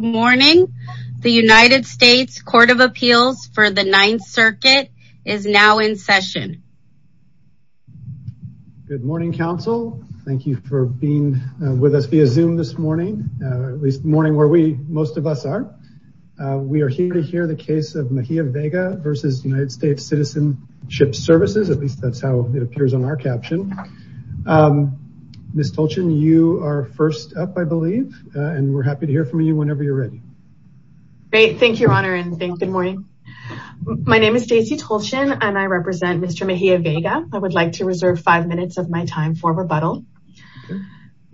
Good morning. The United States Court of Appeals for the Ninth Circuit is now in session. Good morning, counsel. Thank you for being with us via Zoom this morning, at least morning where we most of us are. We are here to hear the case of Mejia Vega v. United States Citizenship Services. At least that's how it appears on our caption. Ms. Tolchin, you are first up, and we're happy to hear from you whenever you're ready. Thank you, Your Honor, and good morning. My name is Stacey Tolchin, and I represent Mr. Mejia Vega. I would like to reserve five minutes of my time for rebuttal.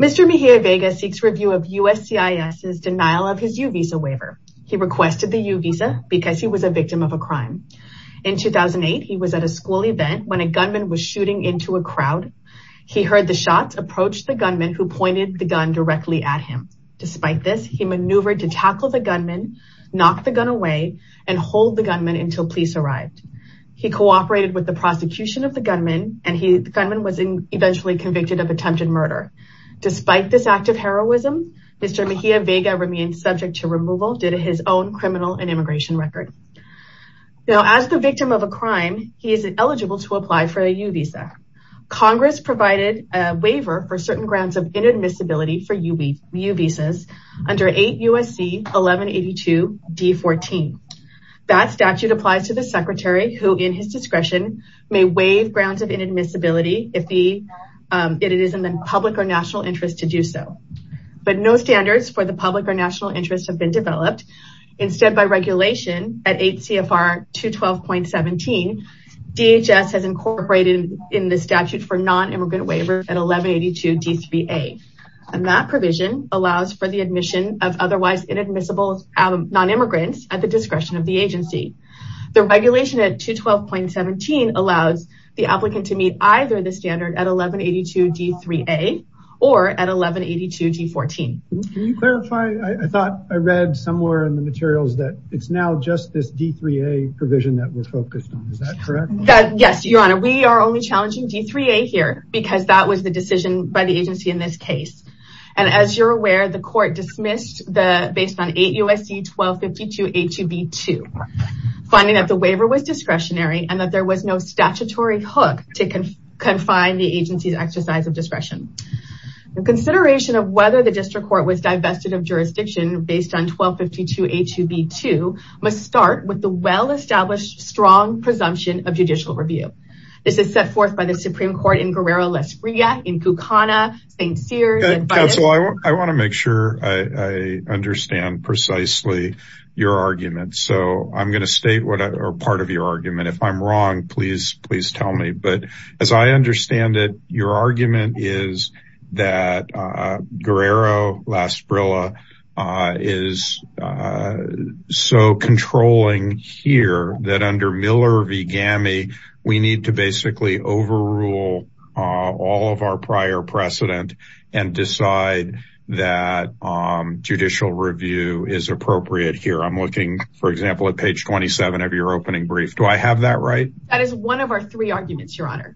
Mr. Mejia Vega seeks review of USCIS's denial of his U-Visa waiver. He requested the U-Visa because he was a victim of a crime. In 2008, he was at a school event when a gunman was shooting into a crowd. He heard the shots approach the gunman who pointed the gun directly at him. Despite this, he maneuvered to tackle the gunman, knock the gun away, and hold the gunman until police arrived. He cooperated with the prosecution of the gunman, and the gunman was eventually convicted of attempted murder. Despite this act of heroism, Mr. Mejia Vega remained subject to removal due to his own criminal and immigration record. Now, as the victim of a crime, he is eligible to apply for a waiver for certain grounds of inadmissibility for U-Visas under 8 U.S.C. 1182 D-14. That statute applies to the secretary who, in his discretion, may waive grounds of inadmissibility if it is in the public or national interest to do so. But no standards for the public or national interest have been developed. Instead, by regulation, at 8 CFR 212.17, DHS has incorporated in the immigrant waiver at 1182 D-3A, and that provision allows for the admission of otherwise inadmissible non-immigrants at the discretion of the agency. The regulation at 212.17 allows the applicant to meet either the standard at 1182 D-3A or at 1182 D-14. Can you clarify? I thought I read somewhere in the materials that it's now just this D-3A provision that we're focused on. Is that correct? Yes, that's correct. And as you're aware, the court dismissed the based on 8 U.S.C. 1252 A-2B-2, finding that the waiver was discretionary and that there was no statutory hook to confine the agency's exercise of discretion. The consideration of whether the district court was divested of jurisdiction based on 1252 A-2B-2 must start with the well-established strong presumption of judicial review. This is set forth by the Supreme Court in Guerrero-La Esprilla, in Kukana, St. Cyr's, and Vidas. Counsel, I want to make sure I understand precisely your argument. So I'm going to state part of your argument. If I'm wrong, please tell me. But as I understand it, your argument is that Guerrero-La Esprilla is so controlling here that under Miller v. GAMI, we need to basically overrule all of our prior precedent and decide that judicial review is appropriate here. I'm looking, for example, at page 27 of your opening brief. Do I have that right? That is one of our three arguments, Your Honor.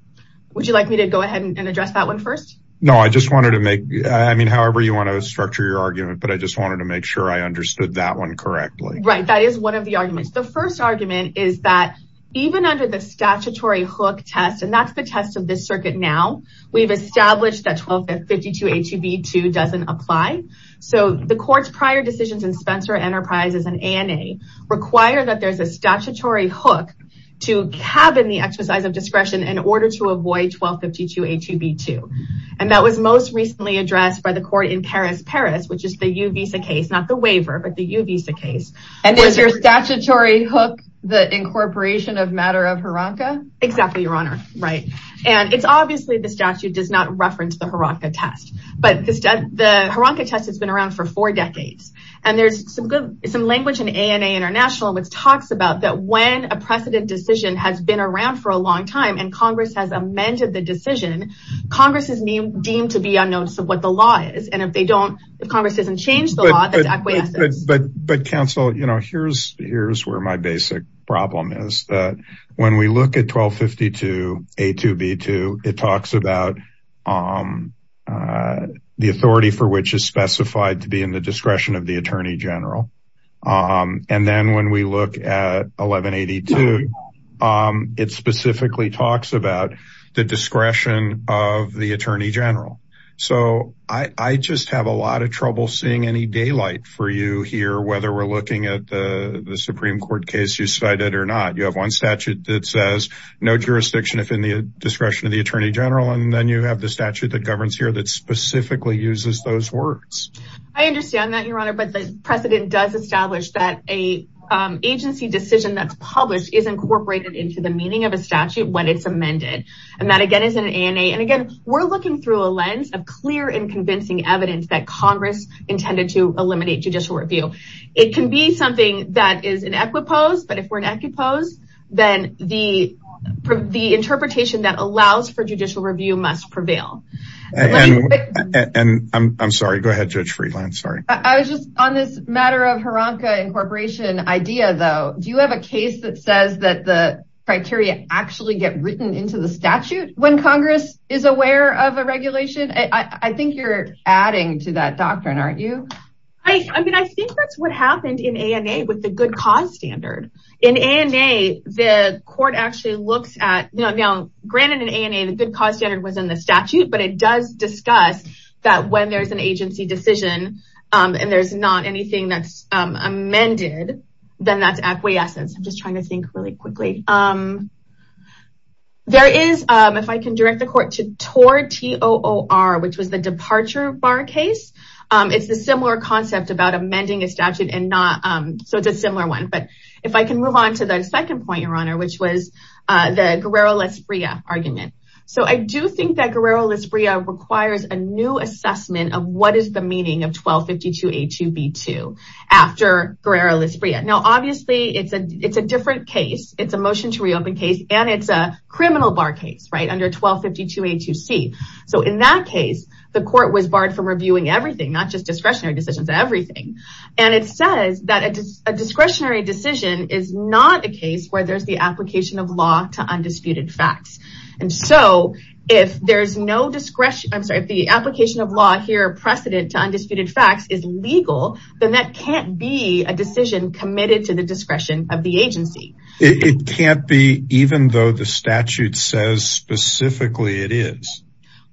Would you like me to go ahead and address that one first? No, I just wanted to make, I mean, however you want to structure your argument, but I just wanted to make sure I understood that one correctly. Right, that is one of the arguments. The first argument is that even under the statutory hook test, and that's the test of this circuit now, we've established that 1252 A-2B-2 doesn't apply. So the court's prior decisions in Spencer Enterprises and ANA require that there's a statutory hook to cabin the exercise of discretion in order to avoid by the court in Paris-Paris, which is the U-Visa case, not the waiver, but the U-Visa case. And is your statutory hook the incorporation of matter of hiranka? Exactly, Your Honor. Right. And it's obviously the statute does not reference the hiranka test, but the hiranka test has been around for four decades. And there's some language in ANA International which talks about that when a precedent decision has been around for a long time, and Congress has amended the decision, Congress is deemed to be unnoticed of what the law is. And if they don't, if Congress doesn't change the law, that's acquiescence. But counsel, you know, here's where my basic problem is. When we look at 1252 A-2B-2, it talks about the authority for which is specified to be in the discretion of the attorney general. So I just have a lot of trouble seeing any daylight for you here, whether we're looking at the Supreme Court case you cited or not. You have one statute that says no jurisdiction if in the discretion of the attorney general, and then you have the statute that governs here that specifically uses those words. I understand that, Your Honor, but the precedent does establish that a agency decision that's published is incorporated into the meaning of a statute when it's amended. And that again is in ANA. And again, we're looking through a lens of clear and convincing evidence that Congress intended to eliminate judicial review. It can be something that is in equipose, but if we're in equipose, then the interpretation that allows for judicial review must prevail. And I'm sorry, go ahead, Judge Freeland. Sorry. I was just on this matter of Hranka incorporation idea, though. Do you have a case that says that the criteria actually get written into the statute when Congress is aware of a regulation? I think you're adding to that doctrine, aren't you? I mean, I think that's what happened in ANA with the good cause standard. In ANA, the court actually looks at, you know, granted in ANA, the good cause standard was in the statute, but it does discuss that when there's an agency decision and there's not anything that's amended, then that's acquiescence. I'm just trying to think really quickly. There is, if I can direct the court to TOR, T-O-O-R, which was the departure bar case. It's the similar concept about amending a statute and not, so it's a similar one. But if I can move on to the second point, Your Honor, which was the Guerrero-Lasbria argument. So I do think that 1252A2B2 after Guerrero-Lasbria. Now, obviously it's a different case. It's a motion to reopen case and it's a criminal bar case, right? Under 1252A2C. So in that case, the court was barred from reviewing everything, not just discretionary decisions, everything. And it says that a discretionary decision is not a case where there's the application of law to undisputed facts. And so if there's no discretion, I'm sorry, if the application of law here, precedent to undisputed facts is legal, then that can't be a decision committed to the discretion of the agency. It can't be, even though the statute says specifically it is.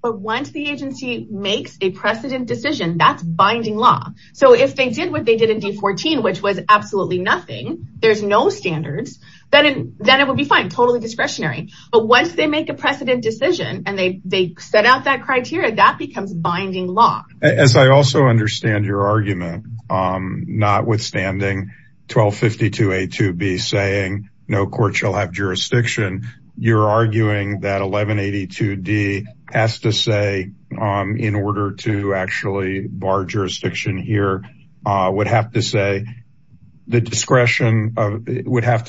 But once the agency makes a precedent decision, that's binding law. So if they did what they did in D14, which was absolutely nothing, there's no standards, then it would be fine, totally discretionary. But once they make a precedent decision and they set out that criteria, that becomes binding law. As I also understand your argument, notwithstanding 1252A2B saying no court shall have jurisdiction, you're arguing that 1182D has to say in order to actually bar jurisdiction here, would have to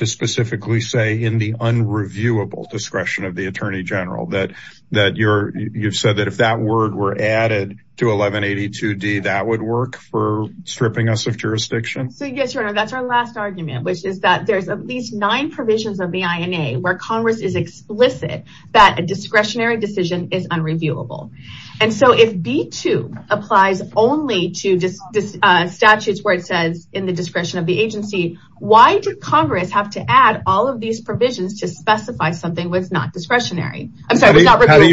specifically say in the unreviewable discretion of the attorney general. You've said that if that word were added to 1182D, that would work for stripping us of jurisdiction? So yes, Your Honor, that's our last argument, which is that there's at least nine provisions of the INA where Congress is explicit that a discretionary decision is unreviewable. And so if B2 applies only to statutes where it says in the discretion of the agency, why did Congress have to add all of these provisions to specify something that's not discretionary? How do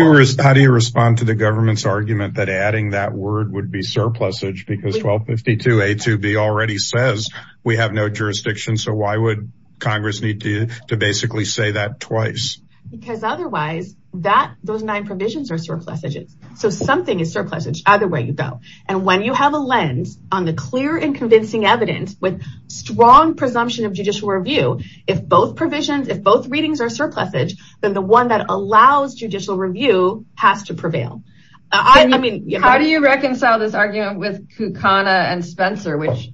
you respond to the government's argument that adding that word would be surplusage because 1252A2B already says we have no jurisdiction, so why would Congress need to basically say that twice? Because otherwise, those nine provisions are so something is surplusage either way you go. And when you have a lens on the clear and convincing evidence with strong presumption of judicial review, if both provisions, if both readings are surplusage, then the one that allows judicial review has to prevail. How do you reconcile this argument with Kucana and Spencer, which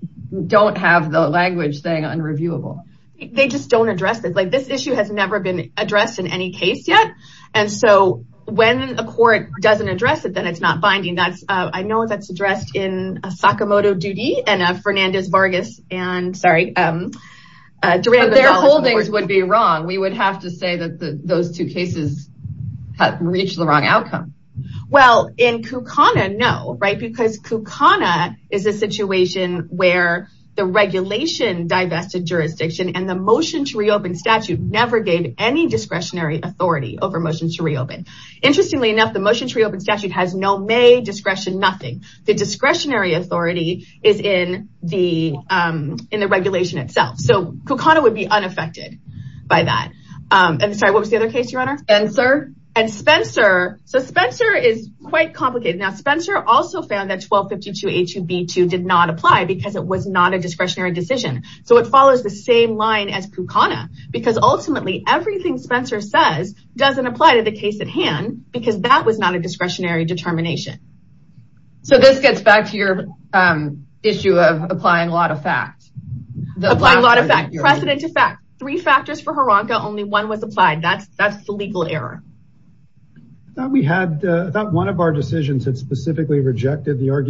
don't have the language thing unreviewable? They just don't address this. This issue has never been addressed in any case yet. And so when a court doesn't address it, then it's not binding. That's I know that's addressed in a Sakamoto duty and a Fernandez Vargas and sorry. Their holdings would be wrong. We would have to say that those two cases have reached the wrong outcome. Well, in Kucana, no, right? Because Kucana is a situation where the regulation divested jurisdiction and the motion to reopen statute never gave any discretionary authority over motions to reopen. Interestingly enough, the motion to reopen statute has no may discretion, nothing. The discretionary authority is in the in the regulation itself. So Kucana would be unaffected by that. And so what was the other case, Your Honor? Spencer. And Spencer. So Spencer is quite complicated. Now, Spencer also found that 1252 H2B2 did not apply because it was not a discretionary decision. So it follows the same line as Kucana, because ultimately everything Spencer says doesn't apply to the case at hand because that was not a discretionary determination. So this gets back to your issue of applying law to fact. Apply law to fact. Precedent to fact. Three factors for Hironka. Only one was applied. That's that's the legal error. We had that one of our decisions that specifically rejected the if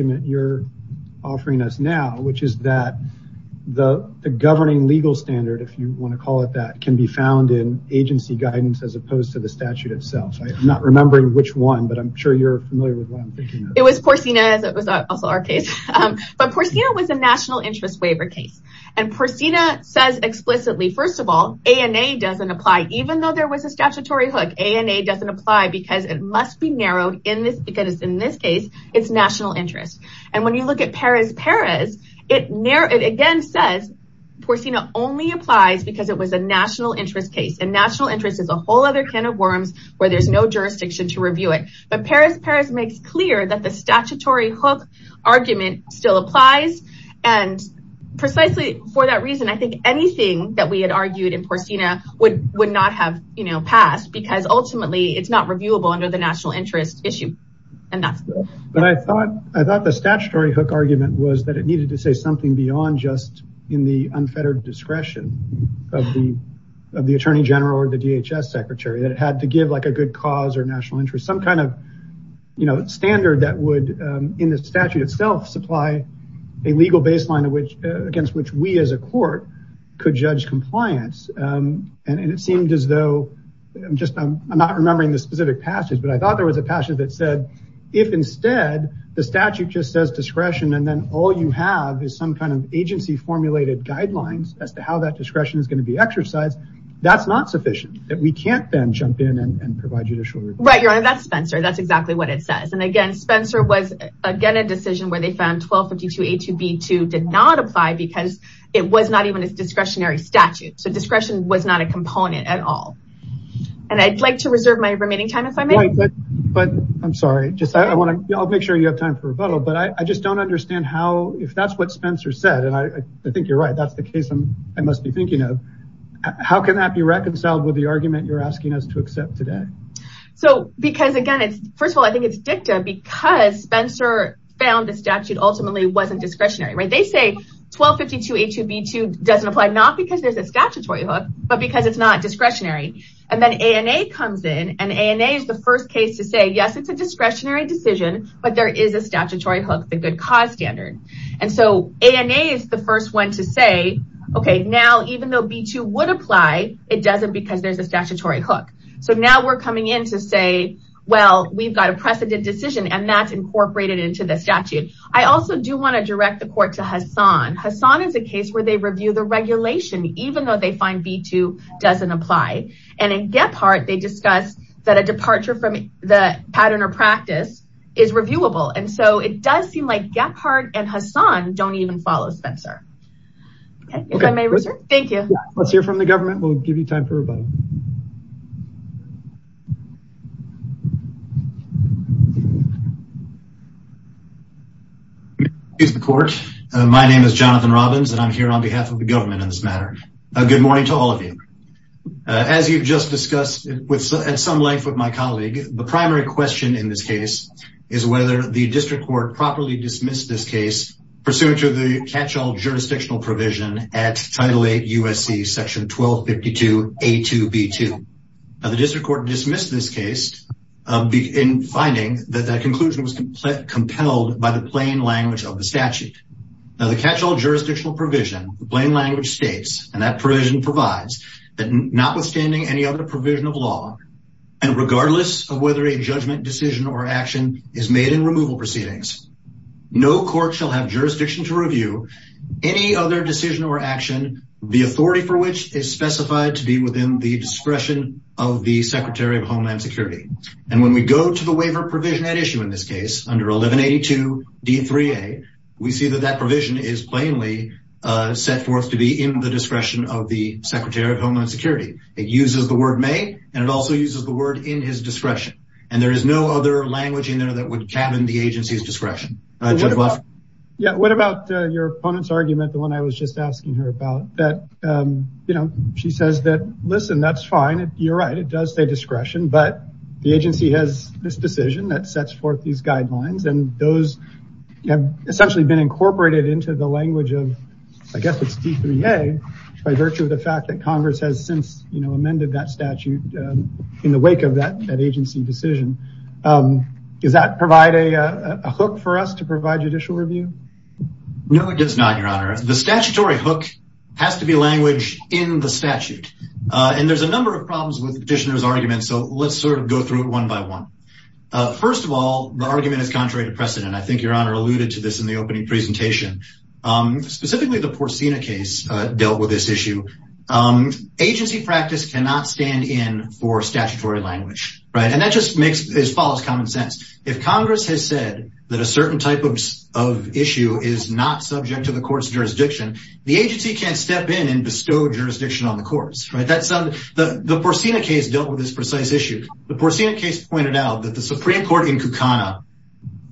you want to call it that, can be found in agency guidance as opposed to the statute itself. I'm not remembering which one, but I'm sure you're familiar with one. It was Porcina, as it was also our case. But Porcina was a national interest waiver case. And Porcina says explicitly, first of all, ANA doesn't apply, even though there was a statutory hook. ANA doesn't apply because it must be narrowed in this because in this case, it's national interest. And when you look at Perez Perez, it again says Porcina only applies because it was a national interest case. And national interest is a whole other can of worms where there's no jurisdiction to review it. But Perez Perez makes clear that the statutory hook argument still applies. And precisely for that reason, I think anything that we had argued in Porcina would not have passed because ultimately it's not reviewable under the national interest issue. And that's it. But I thought the statutory hook argument was that it needed to say something beyond just in the unfettered discretion of the attorney general or the DHS secretary, that it had to give like a good cause or national interest, some kind of standard that would in the statute itself supply a legal baseline against which we as a court could judge compliance. And it seemed as though, I'm not remembering the specific passage, but I thought there was a passage that said, if instead the statute just says discretion, and then all you have is some kind of agency formulated guidelines as to how that discretion is going to be exercised, that's not sufficient, that we can't then jump in and provide judicial review. Right, your honor, that's Spencer. That's exactly what it says. And again, Spencer was again, a decision where they found 1252A2B2 did not apply because it was not even a discretionary statute. So discretion was not a component at all. And I'd like to reserve my remaining time if I may. But I'm sorry, I'll make sure you have time for rebuttal. But I just don't understand how, if that's what Spencer said, and I think you're right, that's the case I must be thinking of, how can that be reconciled with the argument you're asking us to accept today? So because again, first of all, I think it's dicta because Spencer found the statute ultimately wasn't discretionary, right? They say 1252A2B2 doesn't apply, not because there's a statutory hook, but because it's not discretionary. And then ANA comes in and ANA is the first case to say, yes, it's a discretionary decision, but there is a statutory hook, the good cause standard. And so ANA is the first one to say, okay, now, even though B2 would apply, it doesn't because there's a statutory hook. So now we're coming in to say, well, we've got a precedent decision and that's incorporated into the statute. I also do want to direct the court to Hassan. Hassan is a case where they review the regulation, even though they find B2 doesn't apply. And in Gephardt, they discuss that a departure from the pattern or practice is reviewable. And so it does seem like Gephardt and Hassan don't even follow Spencer. Okay, if I may, sir. Thank you. Let's hear from the government. We'll give you time for rebuttal. Excuse the court. My name is Jonathan Robbins and I'm here on behalf of the government in this matter. Good morning to all of you. As you've just discussed at some length with my colleague, the primary question in this case is whether the district court properly dismissed this case pursuant to the catch-all jurisdictional provision at Title VIII USC Section 1252 A2B2. Now the district court dismissed this case in finding that that conclusion was compelled by the plain language of the statute. Now the catch-all jurisdictional provision, the plain language states, and that provision provides, that notwithstanding any other provision of law, and regardless of whether a judgment decision or action is made in removal proceedings, no court shall have jurisdiction to review any other decision or action, the authority for which is specified to be within the discretion of the Secretary of Homeland Security. And when we go to the waiver provision at issue in this case, under 1182 D3A, we see that that provision is plainly set forth to be in the discretion of the Secretary of Homeland Security. It uses the word may, and it also uses the word in his discretion. And there is no other language in there that would in the agency's discretion. What about your opponent's argument, the one I was just asking her about, that, you know, she says that, listen, that's fine, you're right, it does say discretion, but the agency has this decision that sets forth these guidelines, and those have essentially been incorporated into the language of, I guess it's D3A, by virtue of the fact that Congress has since, amended that statute in the wake of that agency decision. Does that provide a hook for us to provide judicial review? No, it does not, Your Honor. The statutory hook has to be language in the statute. And there's a number of problems with the petitioner's argument, so let's sort of go through it one by one. First of all, the argument is contrary to precedent. I think Your Honor alluded to this in the opening presentation. Specifically, the Porcina case dealt with this issue. Agency practice cannot stand in for statutory language, right? And that just makes as follows common sense. If Congress has said that a certain type of issue is not subject to the court's jurisdiction, the agency can't step in and bestow jurisdiction on the courts, right? The Porcina case dealt with this precise issue. The Porcina case pointed out that the Supreme Court in Kukana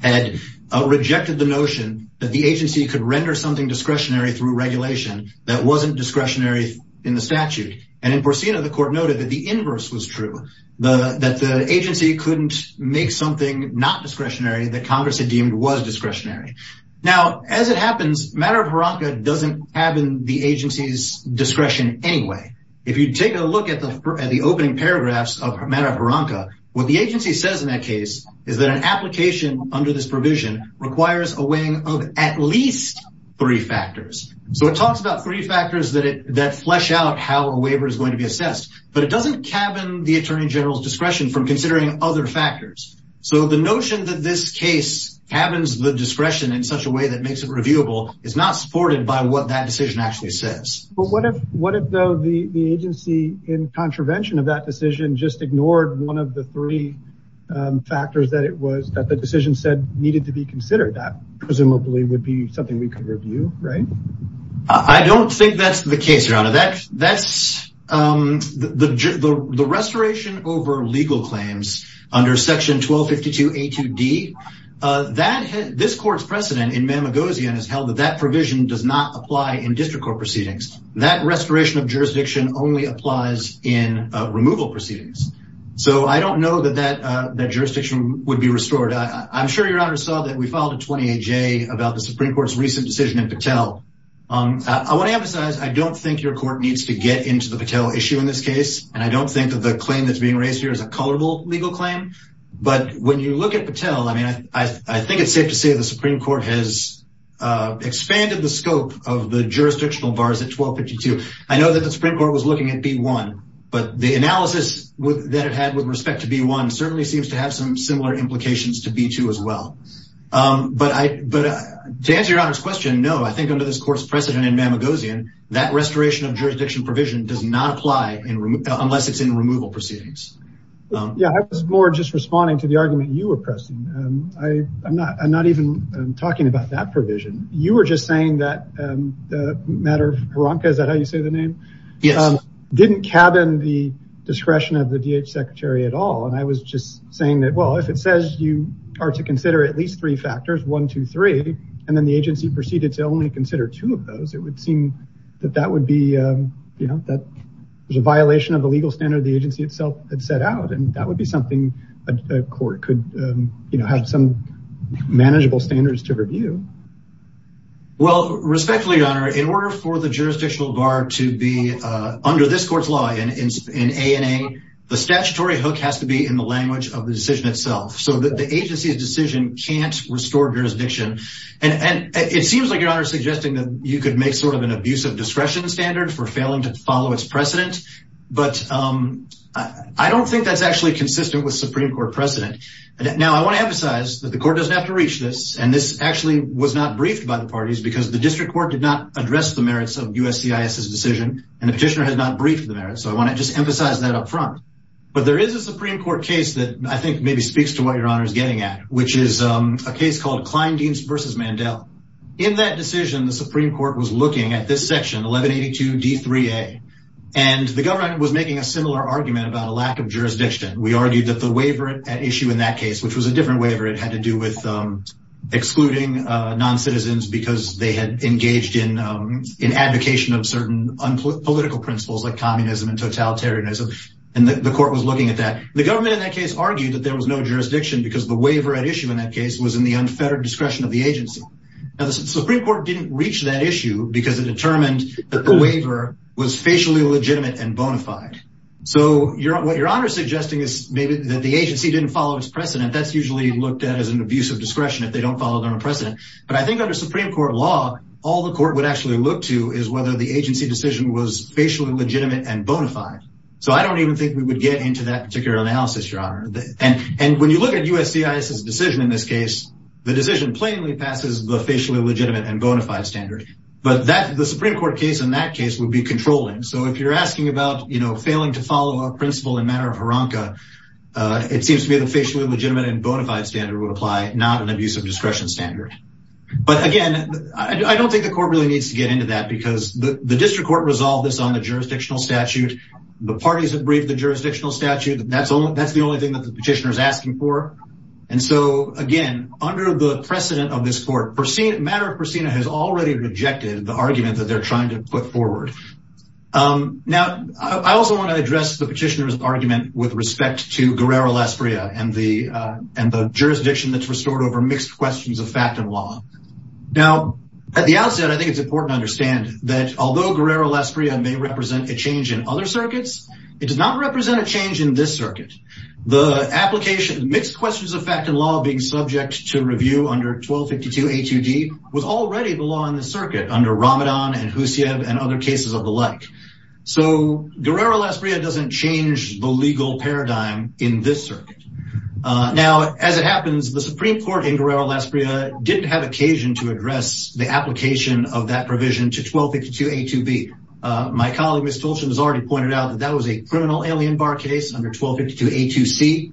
had rejected the notion that the agency could render something discretionary through regulation that wasn't discretionary in the statute. And in Porcina, the court noted that the inverse was true. That the agency couldn't make something not discretionary that Congress had deemed was discretionary. Now, as it happens, matter of haramka doesn't have in the agency's discretion anyway. If you take a look at the opening paragraphs of matter of haramka, what the agency says in that case is that an application under this provision requires a weighing of at least three factors. So it talks about three factors that flesh out how a waiver is going to be assessed, but it doesn't cabin the attorney general's discretion from considering other factors. So the notion that this case cabins the discretion in such a way that makes it reviewable is not supported by what that decision actually says. But what if though the agency in contravention of that decision just ignored one of the three factors that it was that the decision said needed to be considered? That presumably would be something we could review, right? I don't think that's the case, Your Honor. The restoration over legal claims under section 1252 A2D, this court's precedent in Mamagosian has held that that provision does not apply in district court proceedings. That restoration of that jurisdiction would be restored. I'm sure Your Honor saw that we filed a 28-J about the Supreme Court's recent decision in Patel. I want to emphasize, I don't think your court needs to get into the Patel issue in this case. And I don't think that the claim that's being raised here is a colorable legal claim. But when you look at Patel, I mean, I think it's safe to say the Supreme Court has expanded the scope of the jurisdictional bars at 1252. I know that the Supreme Court was looking at B1, but the analysis that it had with respect to B1 certainly seems to have some similar implications to B2 as well. But to answer Your Honor's question, no, I think under this court's precedent in Mamagosian, that restoration of jurisdiction provision does not apply unless it's in removal proceedings. Yeah, I was more just responding to the argument you were pressing. I'm not even talking about that provision. You were just saying that the matter of Hronka, is that how you say the name? Yes. Didn't cabin the discretion of the DH secretary at all. And I was just saying that, well, if it says you are to consider at least three factors, one, two, three, and then the agency proceeded to only consider two of those, it would seem that that would be, you know, that there's a violation of the legal standard the agency itself had set out. And that would be something a court could, you know, have some for the jurisdictional bar to be under this court's law in A&A, the statutory hook has to be in the language of the decision itself. So the agency's decision can't restore jurisdiction. And it seems like Your Honor is suggesting that you could make sort of an abuse of discretion standard for failing to follow its precedent. But I don't think that's actually consistent with Supreme Court precedent. Now, I want to emphasize that the court doesn't have to reach this. And this actually was not briefed by the parties because the district court did not address the merits of USCIS's decision. And the petitioner has not briefed the merits. So I want to just emphasize that up front. But there is a Supreme Court case that I think maybe speaks to what Your Honor is getting at, which is a case called Kleindienst versus Mandel. In that decision, the Supreme Court was looking at this section 1182 D3A, and the government was making a similar argument about a lack of jurisdiction. We argued that the waiver at issue in that case, which was different waiver, it had to do with excluding non-citizens because they had engaged in advocation of certain political principles like communism and totalitarianism. And the court was looking at that. The government in that case argued that there was no jurisdiction because the waiver at issue in that case was in the unfettered discretion of the agency. Now, the Supreme Court didn't reach that issue because it determined that the waiver was facially legitimate and bona fide. So what Your Honor is suggesting is maybe that the agency didn't follow its precedent. That's usually looked at as an abuse of discretion if they don't follow their precedent. But I think under Supreme Court law, all the court would actually look to is whether the agency decision was facially legitimate and bona fide. So I don't even think we would get into that particular analysis, Your Honor. And when you look at USCIS's decision in this case, the decision plainly passes the facially legitimate and bona fide standard. But the Supreme Court case in that case would be controlling. So if you're asking about, failing to follow a principle in matter of haramka, it seems to be the facially legitimate and bona fide standard would apply, not an abuse of discretion standard. But again, I don't think the court really needs to get into that because the district court resolved this on the jurisdictional statute. The parties that briefed the jurisdictional statute, that's the only thing that the petitioner is asking for. And so again, under the precedent of this court, matter of pristina has already rejected the argument that they're trying to put forward. Now, I also want to address the petitioner's argument with respect to Guerrero-Lasprilla and the jurisdiction that's restored over mixed questions of fact and law. Now, at the outset, I think it's important to understand that although Guerrero-Lasprilla may represent a change in other circuits, it does not represent a change in this circuit. The application, mixed questions of fact and law being subject to review under 1252 A2D was already the law in the circuit under Ramadan and Husiev and other cases of the like. So, Guerrero-Lasprilla doesn't change the legal paradigm in this circuit. Now, as it happens, the Supreme Court in Guerrero-Lasprilla didn't have occasion to address the application of that provision to 1252 A2B. My colleague, Ms. Tolshin, has already pointed out that that was a criminal alien bar case under 1252 A2C,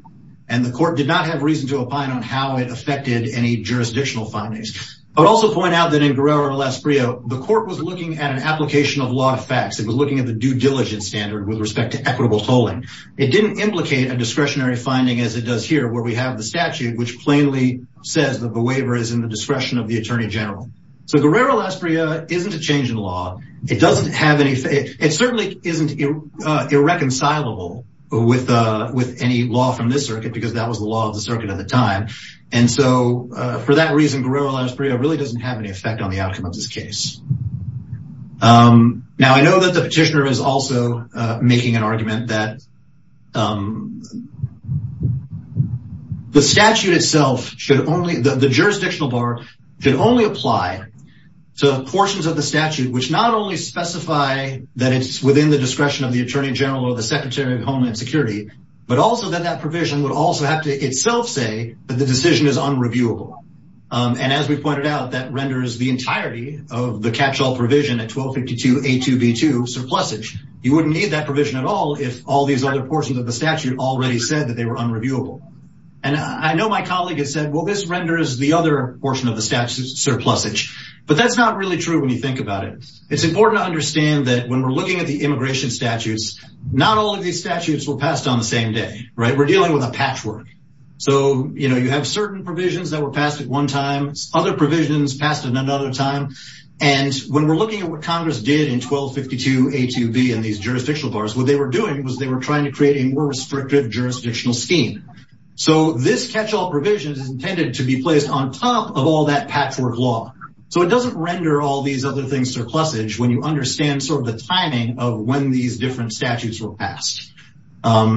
and the court did not have reason to opine on how it affected any of the other circuits. I'll also point out that in Guerrero-Lasprilla, the court was looking at an application of law of facts. It was looking at the due diligence standard with respect to equitable tolling. It didn't implicate a discretionary finding as it does here where we have the statute, which plainly says that the waiver is in the discretion of the attorney general. So, Guerrero-Lasprilla isn't a change in law. It certainly isn't irreconcilable with any law from this circuit because that was the law of the circuit at the time. And so, for that reason, Guerrero-Lasprilla really doesn't have any effect on the outcome of this case. Now, I know that the petitioner is also making an argument that the statute itself should only, the jurisdictional bar should only apply to portions of the statute which not only specify that it's within the discretion of the attorney general or the secretary of homeland security, but also that that provision would also have to itself say that the decision is unreviewable. And as we pointed out, that renders the entirety of the catch-all provision at 1252A2B2 surplusage. You wouldn't need that provision at all if all these other portions of the statute already said that they were unreviewable. And I know my colleague has said, well, this renders the other portion of the statute surplusage. But that's not really true when you think about it. It's important to understand that when we're looking at the immigration statutes, not all of these statutes were passed on the same day, right? We're dealing with a patchwork. So, you know, you have certain provisions that were passed at one time, other provisions passed at another time. And when we're looking at what Congress did in 1252A2B and these jurisdictional bars, what they were doing was they were trying to create a more restrictive jurisdictional scheme. So this catch-all provision is intended to be placed on top of all that patchwork law. So it doesn't render all these other things surplusage when you understand sort these different statutes were passed.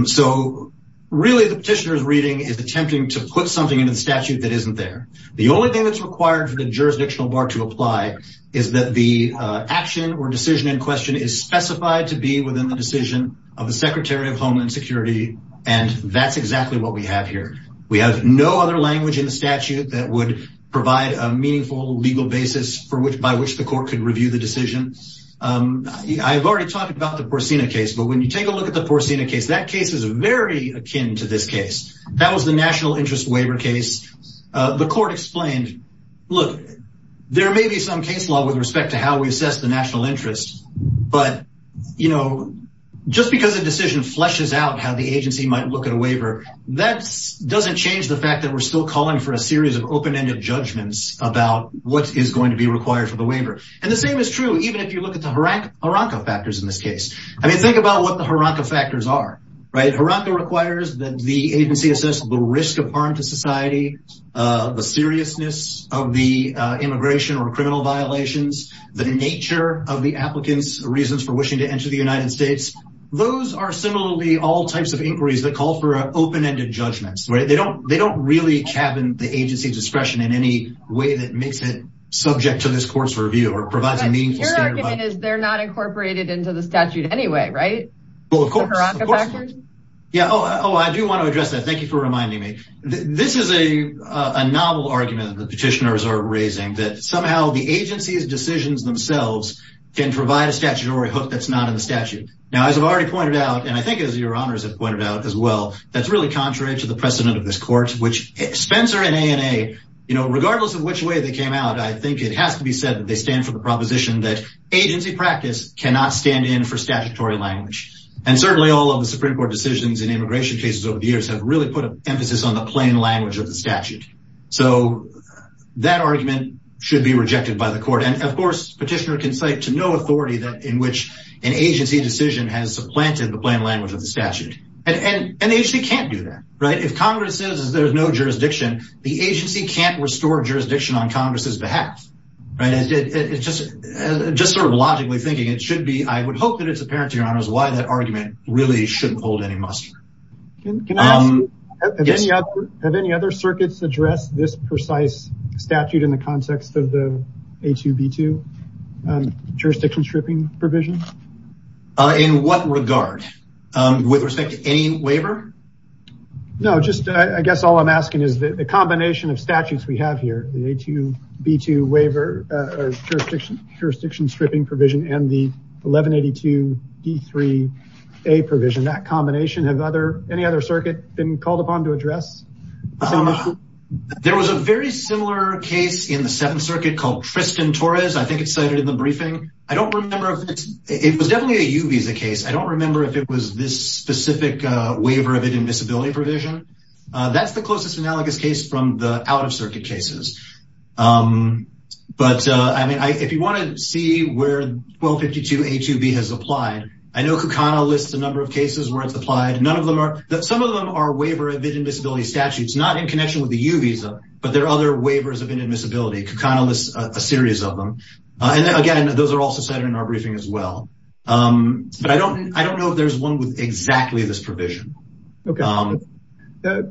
So really the petitioner's reading is attempting to put something into the statute that isn't there. The only thing that's required for the jurisdictional bar to apply is that the action or decision in question is specified to be within the decision of the Secretary of Homeland Security. And that's exactly what we have here. We have no other language in the statute that would provide a meaningful legal basis for which by which the when you take a look at the Porcina case, that case is very akin to this case. That was the national interest waiver case. The court explained, look, there may be some case law with respect to how we assess the national interest. But, you know, just because a decision fleshes out how the agency might look at a waiver, that doesn't change the fact that we're still calling for a series of open-ended judgments about what is going to be required for the waiver. And the same is I mean, think about what the Haronka factors are, right? Haronka requires that the agency assess the risk of harm to society, the seriousness of the immigration or criminal violations, the nature of the applicants reasons for wishing to enter the United States. Those are similarly all types of inquiries that call for open-ended judgments, right? They don't they don't really cabin the agency discretion in any way that makes it subject to this court's Your argument is they're not incorporated into the statute anyway, right? Yeah. Oh, I do want to address that. Thank you for reminding me. This is a novel argument that the petitioners are raising that somehow the agency's decisions themselves can provide a statutory hook that's not in the statute. Now, as I've already pointed out, and I think as your honors have pointed out as well, that's really contrary to the precedent of this court, which Spencer and ANA, you know, regardless of which way they came out, I think it has to be said that that agency practice cannot stand in for statutory language. And certainly all of the Supreme Court decisions and immigration cases over the years have really put an emphasis on the plain language of the statute. So that argument should be rejected by the court. And of course, petitioner can cite to no authority that in which an agency decision has supplanted the plain language of the statute. And they actually can't do that, right? If Congress says there's no jurisdiction, the agency can't restore jurisdiction on Congress's behalf, right? It's just sort of logically thinking it should be. I would hope that it's apparent to your honors why that argument really shouldn't hold any muster. Can I ask you, have any other circuits addressed this precise statute in the context of the A2B2 jurisdiction stripping provision? In what regard? With respect any waiver? No, just, I guess all I'm asking is that the combination of statutes we have here, the A2B2 waiver or jurisdiction stripping provision and the 1182D3A provision, that combination, have any other circuit been called upon to address? There was a very similar case in the Seventh Circuit called Tristan Torres. I think it's cited in the briefing. I don't remember if it's, it was definitely a UVISA case. I don't remember if it was this specific waiver of inadmissibility provision. That's the closest analogous case from the out-of-circuit cases. But, I mean, if you want to see where 1252A2B has applied, I know Kucana lists a number of cases where it's applied. Some of them are waiver of inadmissibility statutes, not in connection with the UVISA, but there are other waivers of inadmissibility. Kucana lists a series of them. And again, those are also cited in our briefing as well. But I don't know if there's one with exactly this provision. I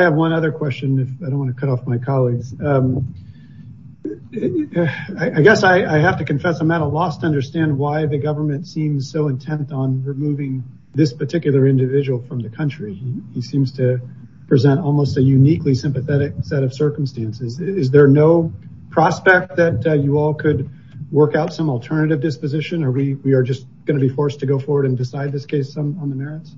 have one other question if I don't want to cut off my colleagues. I guess I have to confess I'm at a loss to understand why the government seems so intent on removing this particular individual from the country. He seems to present almost a uniquely sympathetic set of circumstances. Is there no prospect that you all could work out some we are just going to be forced to go forward and decide this case on the merits?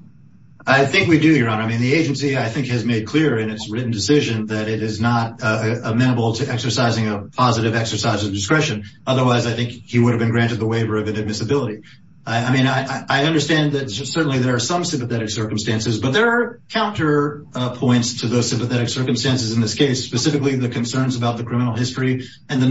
I think we do, Your Honor. I mean, the agency, I think, has made clear in its written decision that it is not amenable to exercising a positive exercise of discretion. Otherwise, I think he would have been granted the waiver of inadmissibility. I mean, I understand that certainly there are some sympathetic circumstances, but there are counterpoints to those sympathetic circumstances in this case, specifically the concerns about the criminal history and the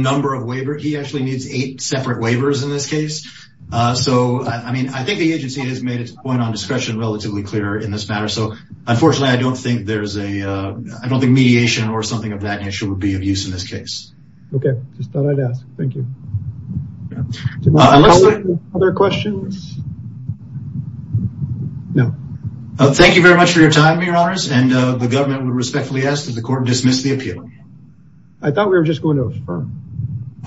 So, I mean, I think the agency has made its point on discretion relatively clear in this matter. So, unfortunately, I don't think there's a, I don't think mediation or something of that nature would be of use in this case. Okay, just thought I'd ask. Thank you. Other questions? No. Thank you very much for your time, Your Honors. And the government would respectfully ask that the court dismiss the appeal. I thought we were just going to affirm.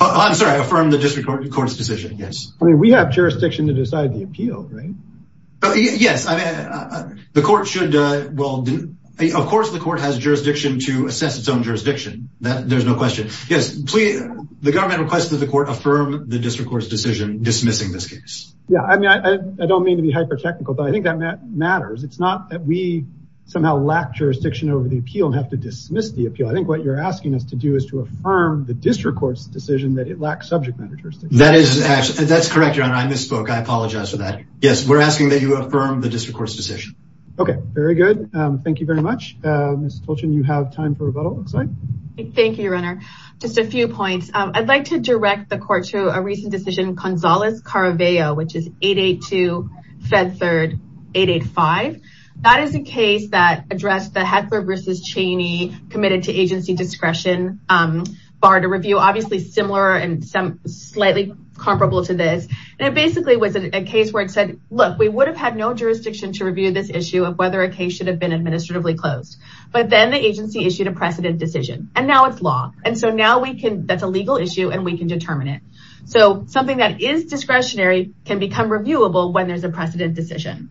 I'm sorry. Affirm the district court's decision. Yes. I mean, we have jurisdiction to decide the appeal, right? Yes. I mean, the court should, well, of course, the court has jurisdiction to assess its own jurisdiction. There's no question. Yes. The government requests that the court affirm the district court's decision dismissing this case. Yeah. I mean, I don't mean to be hyper-technical, but I think that matters. It's not that we somehow lack jurisdiction over the court's decision that it lacks subject matter jurisdiction. That's correct, Your Honor. I misspoke. I apologize for that. Yes, we're asking that you affirm the district court's decision. Okay, very good. Thank you very much. Ms. Tolchin, you have time for rebuttal, it looks like. Thank you, Your Honor. Just a few points. I'd like to direct the court to a recent decision, Gonzalez-Caraveo, which is 882, Fed Third, 885. That is a case that addressed the Heckler versus Cheney committed to agency discretion bar to review. Obviously, similar and slightly comparable to this. And it basically was a case where it said, look, we would have had no jurisdiction to review this issue of whether a case should have been administratively closed. But then the agency issued a precedent decision. And now it's law. And so now we can, that's a legal issue and we can determine it. So something that is discretionary can become reviewable when there's a precedent decision.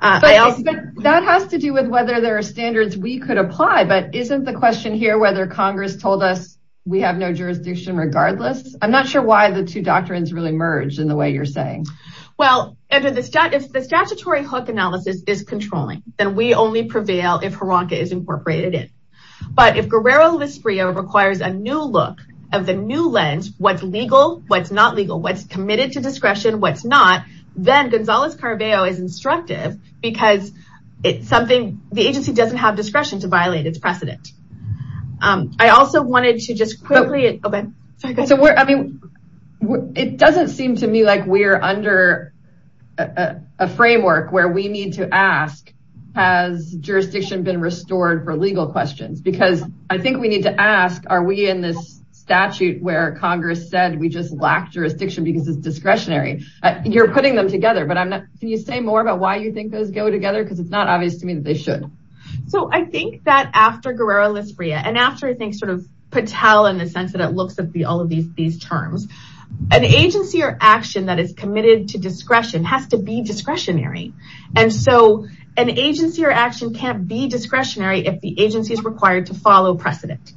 But that has to do with whether there are standards we could apply but isn't the question here whether Congress told us we have no jurisdiction regardless? I'm not sure why the two doctrines really merged in the way you're saying. Well, if the statutory hook analysis is controlling, then we only prevail if HRONCA is incorporated in. But if Guerrero-Lisbria requires a new look of the new lens, what's legal, what's not legal, what's committed to discretion, what's not, then Gonzalez-Caraveo is instructive because it's something, the agency doesn't have discretion to violate its precedent. I also wanted to just quickly, okay, sorry, go ahead. So I mean, it doesn't seem to me like we're under a framework where we need to ask, has jurisdiction been restored for legal questions? Because I think we need to ask, are we in this statute where Congress said we just lack jurisdiction because it's discretionary? You're putting them together, but can you say more about why you think those go together? Because it's not obvious to me that they should. So I think that after Guerrero-Lisbria and after I think sort of Patel in the sense that it looks at all of these terms, an agency or action that is committed to discretion has to be discretionary. And so an agency or action can't be discretionary if the agency is required to follow precedent.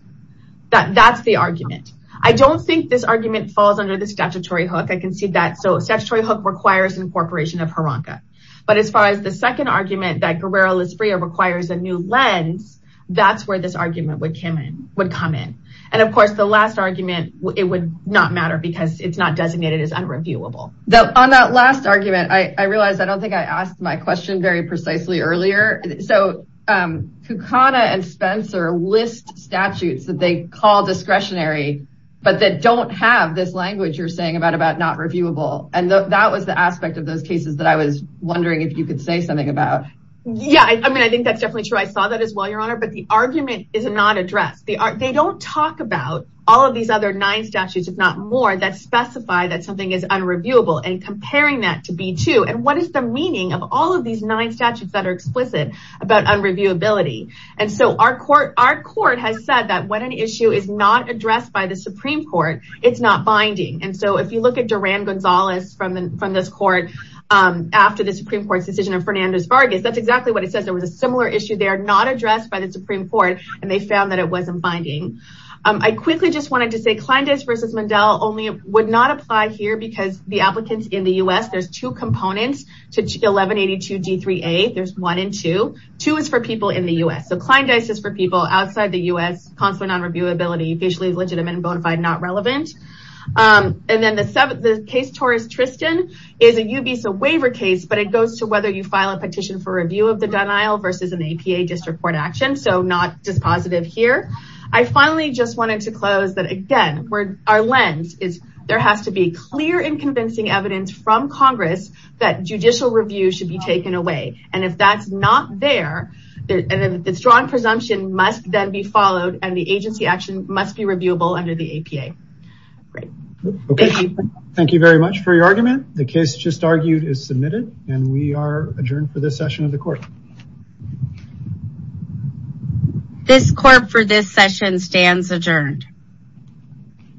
That's the argument. I don't think this argument falls under the statutory hook. I can see that. So statutory hook requires incorporation of HRANCA. But as far as the second argument that Guerrero-Lisbria requires a new lens, that's where this argument would come in. And of course the last argument, it would not matter because it's not designated as unreviewable. On that last argument, I realized I don't think I asked my question very precisely earlier. So Kukana and Spencer list statutes that they call discretionary, but that don't have this language you're saying about not reviewable. And that was the aspect of those cases that I was wondering if you could say something about. Yeah. I mean, I think that's definitely true. I saw that as well, Your Honor. But the argument is not addressed. They don't talk about all of these other nine statutes, if not more, that specify that something is unreviewable and comparing that to B-2. And what is the meaning of all of these nine statutes that are explicit about unreviewability? And so our court has said that when an issue is not addressed by the Supreme Court, it's not binding. And so if you look at Durand-Gonzalez from this court, after the Supreme Court's decision of Fernandez-Vargas, that's exactly what it says. There was a similar issue there, not addressed by the Supreme Court, and they found that it wasn't binding. I quickly just wanted to say Kleindies versus Mundell only would not apply here because the applicants in the U.S., there's two components to 1182 D-3A. There's one and two. Two is for people in the U.S. So Kleindies is for people outside the U.S., consulate on reviewability, usually legitimate and bona fide, not relevant. And then the case Torres-Tristan is a UBISA waiver case, but it goes to whether you file a petition for review of the denial versus an APA district court action. So not dispositive here. I finally just wanted to close that again, our lens is there has to be clear and convincing evidence from Congress that judicial review should be taken away. And if that's not there, the strong presumption must then be followed and the agency action must be reviewable under the APA. Thank you very much for your argument. The case just argued is submitted and we are adjourned for this session of the court. This court for this session stands adjourned.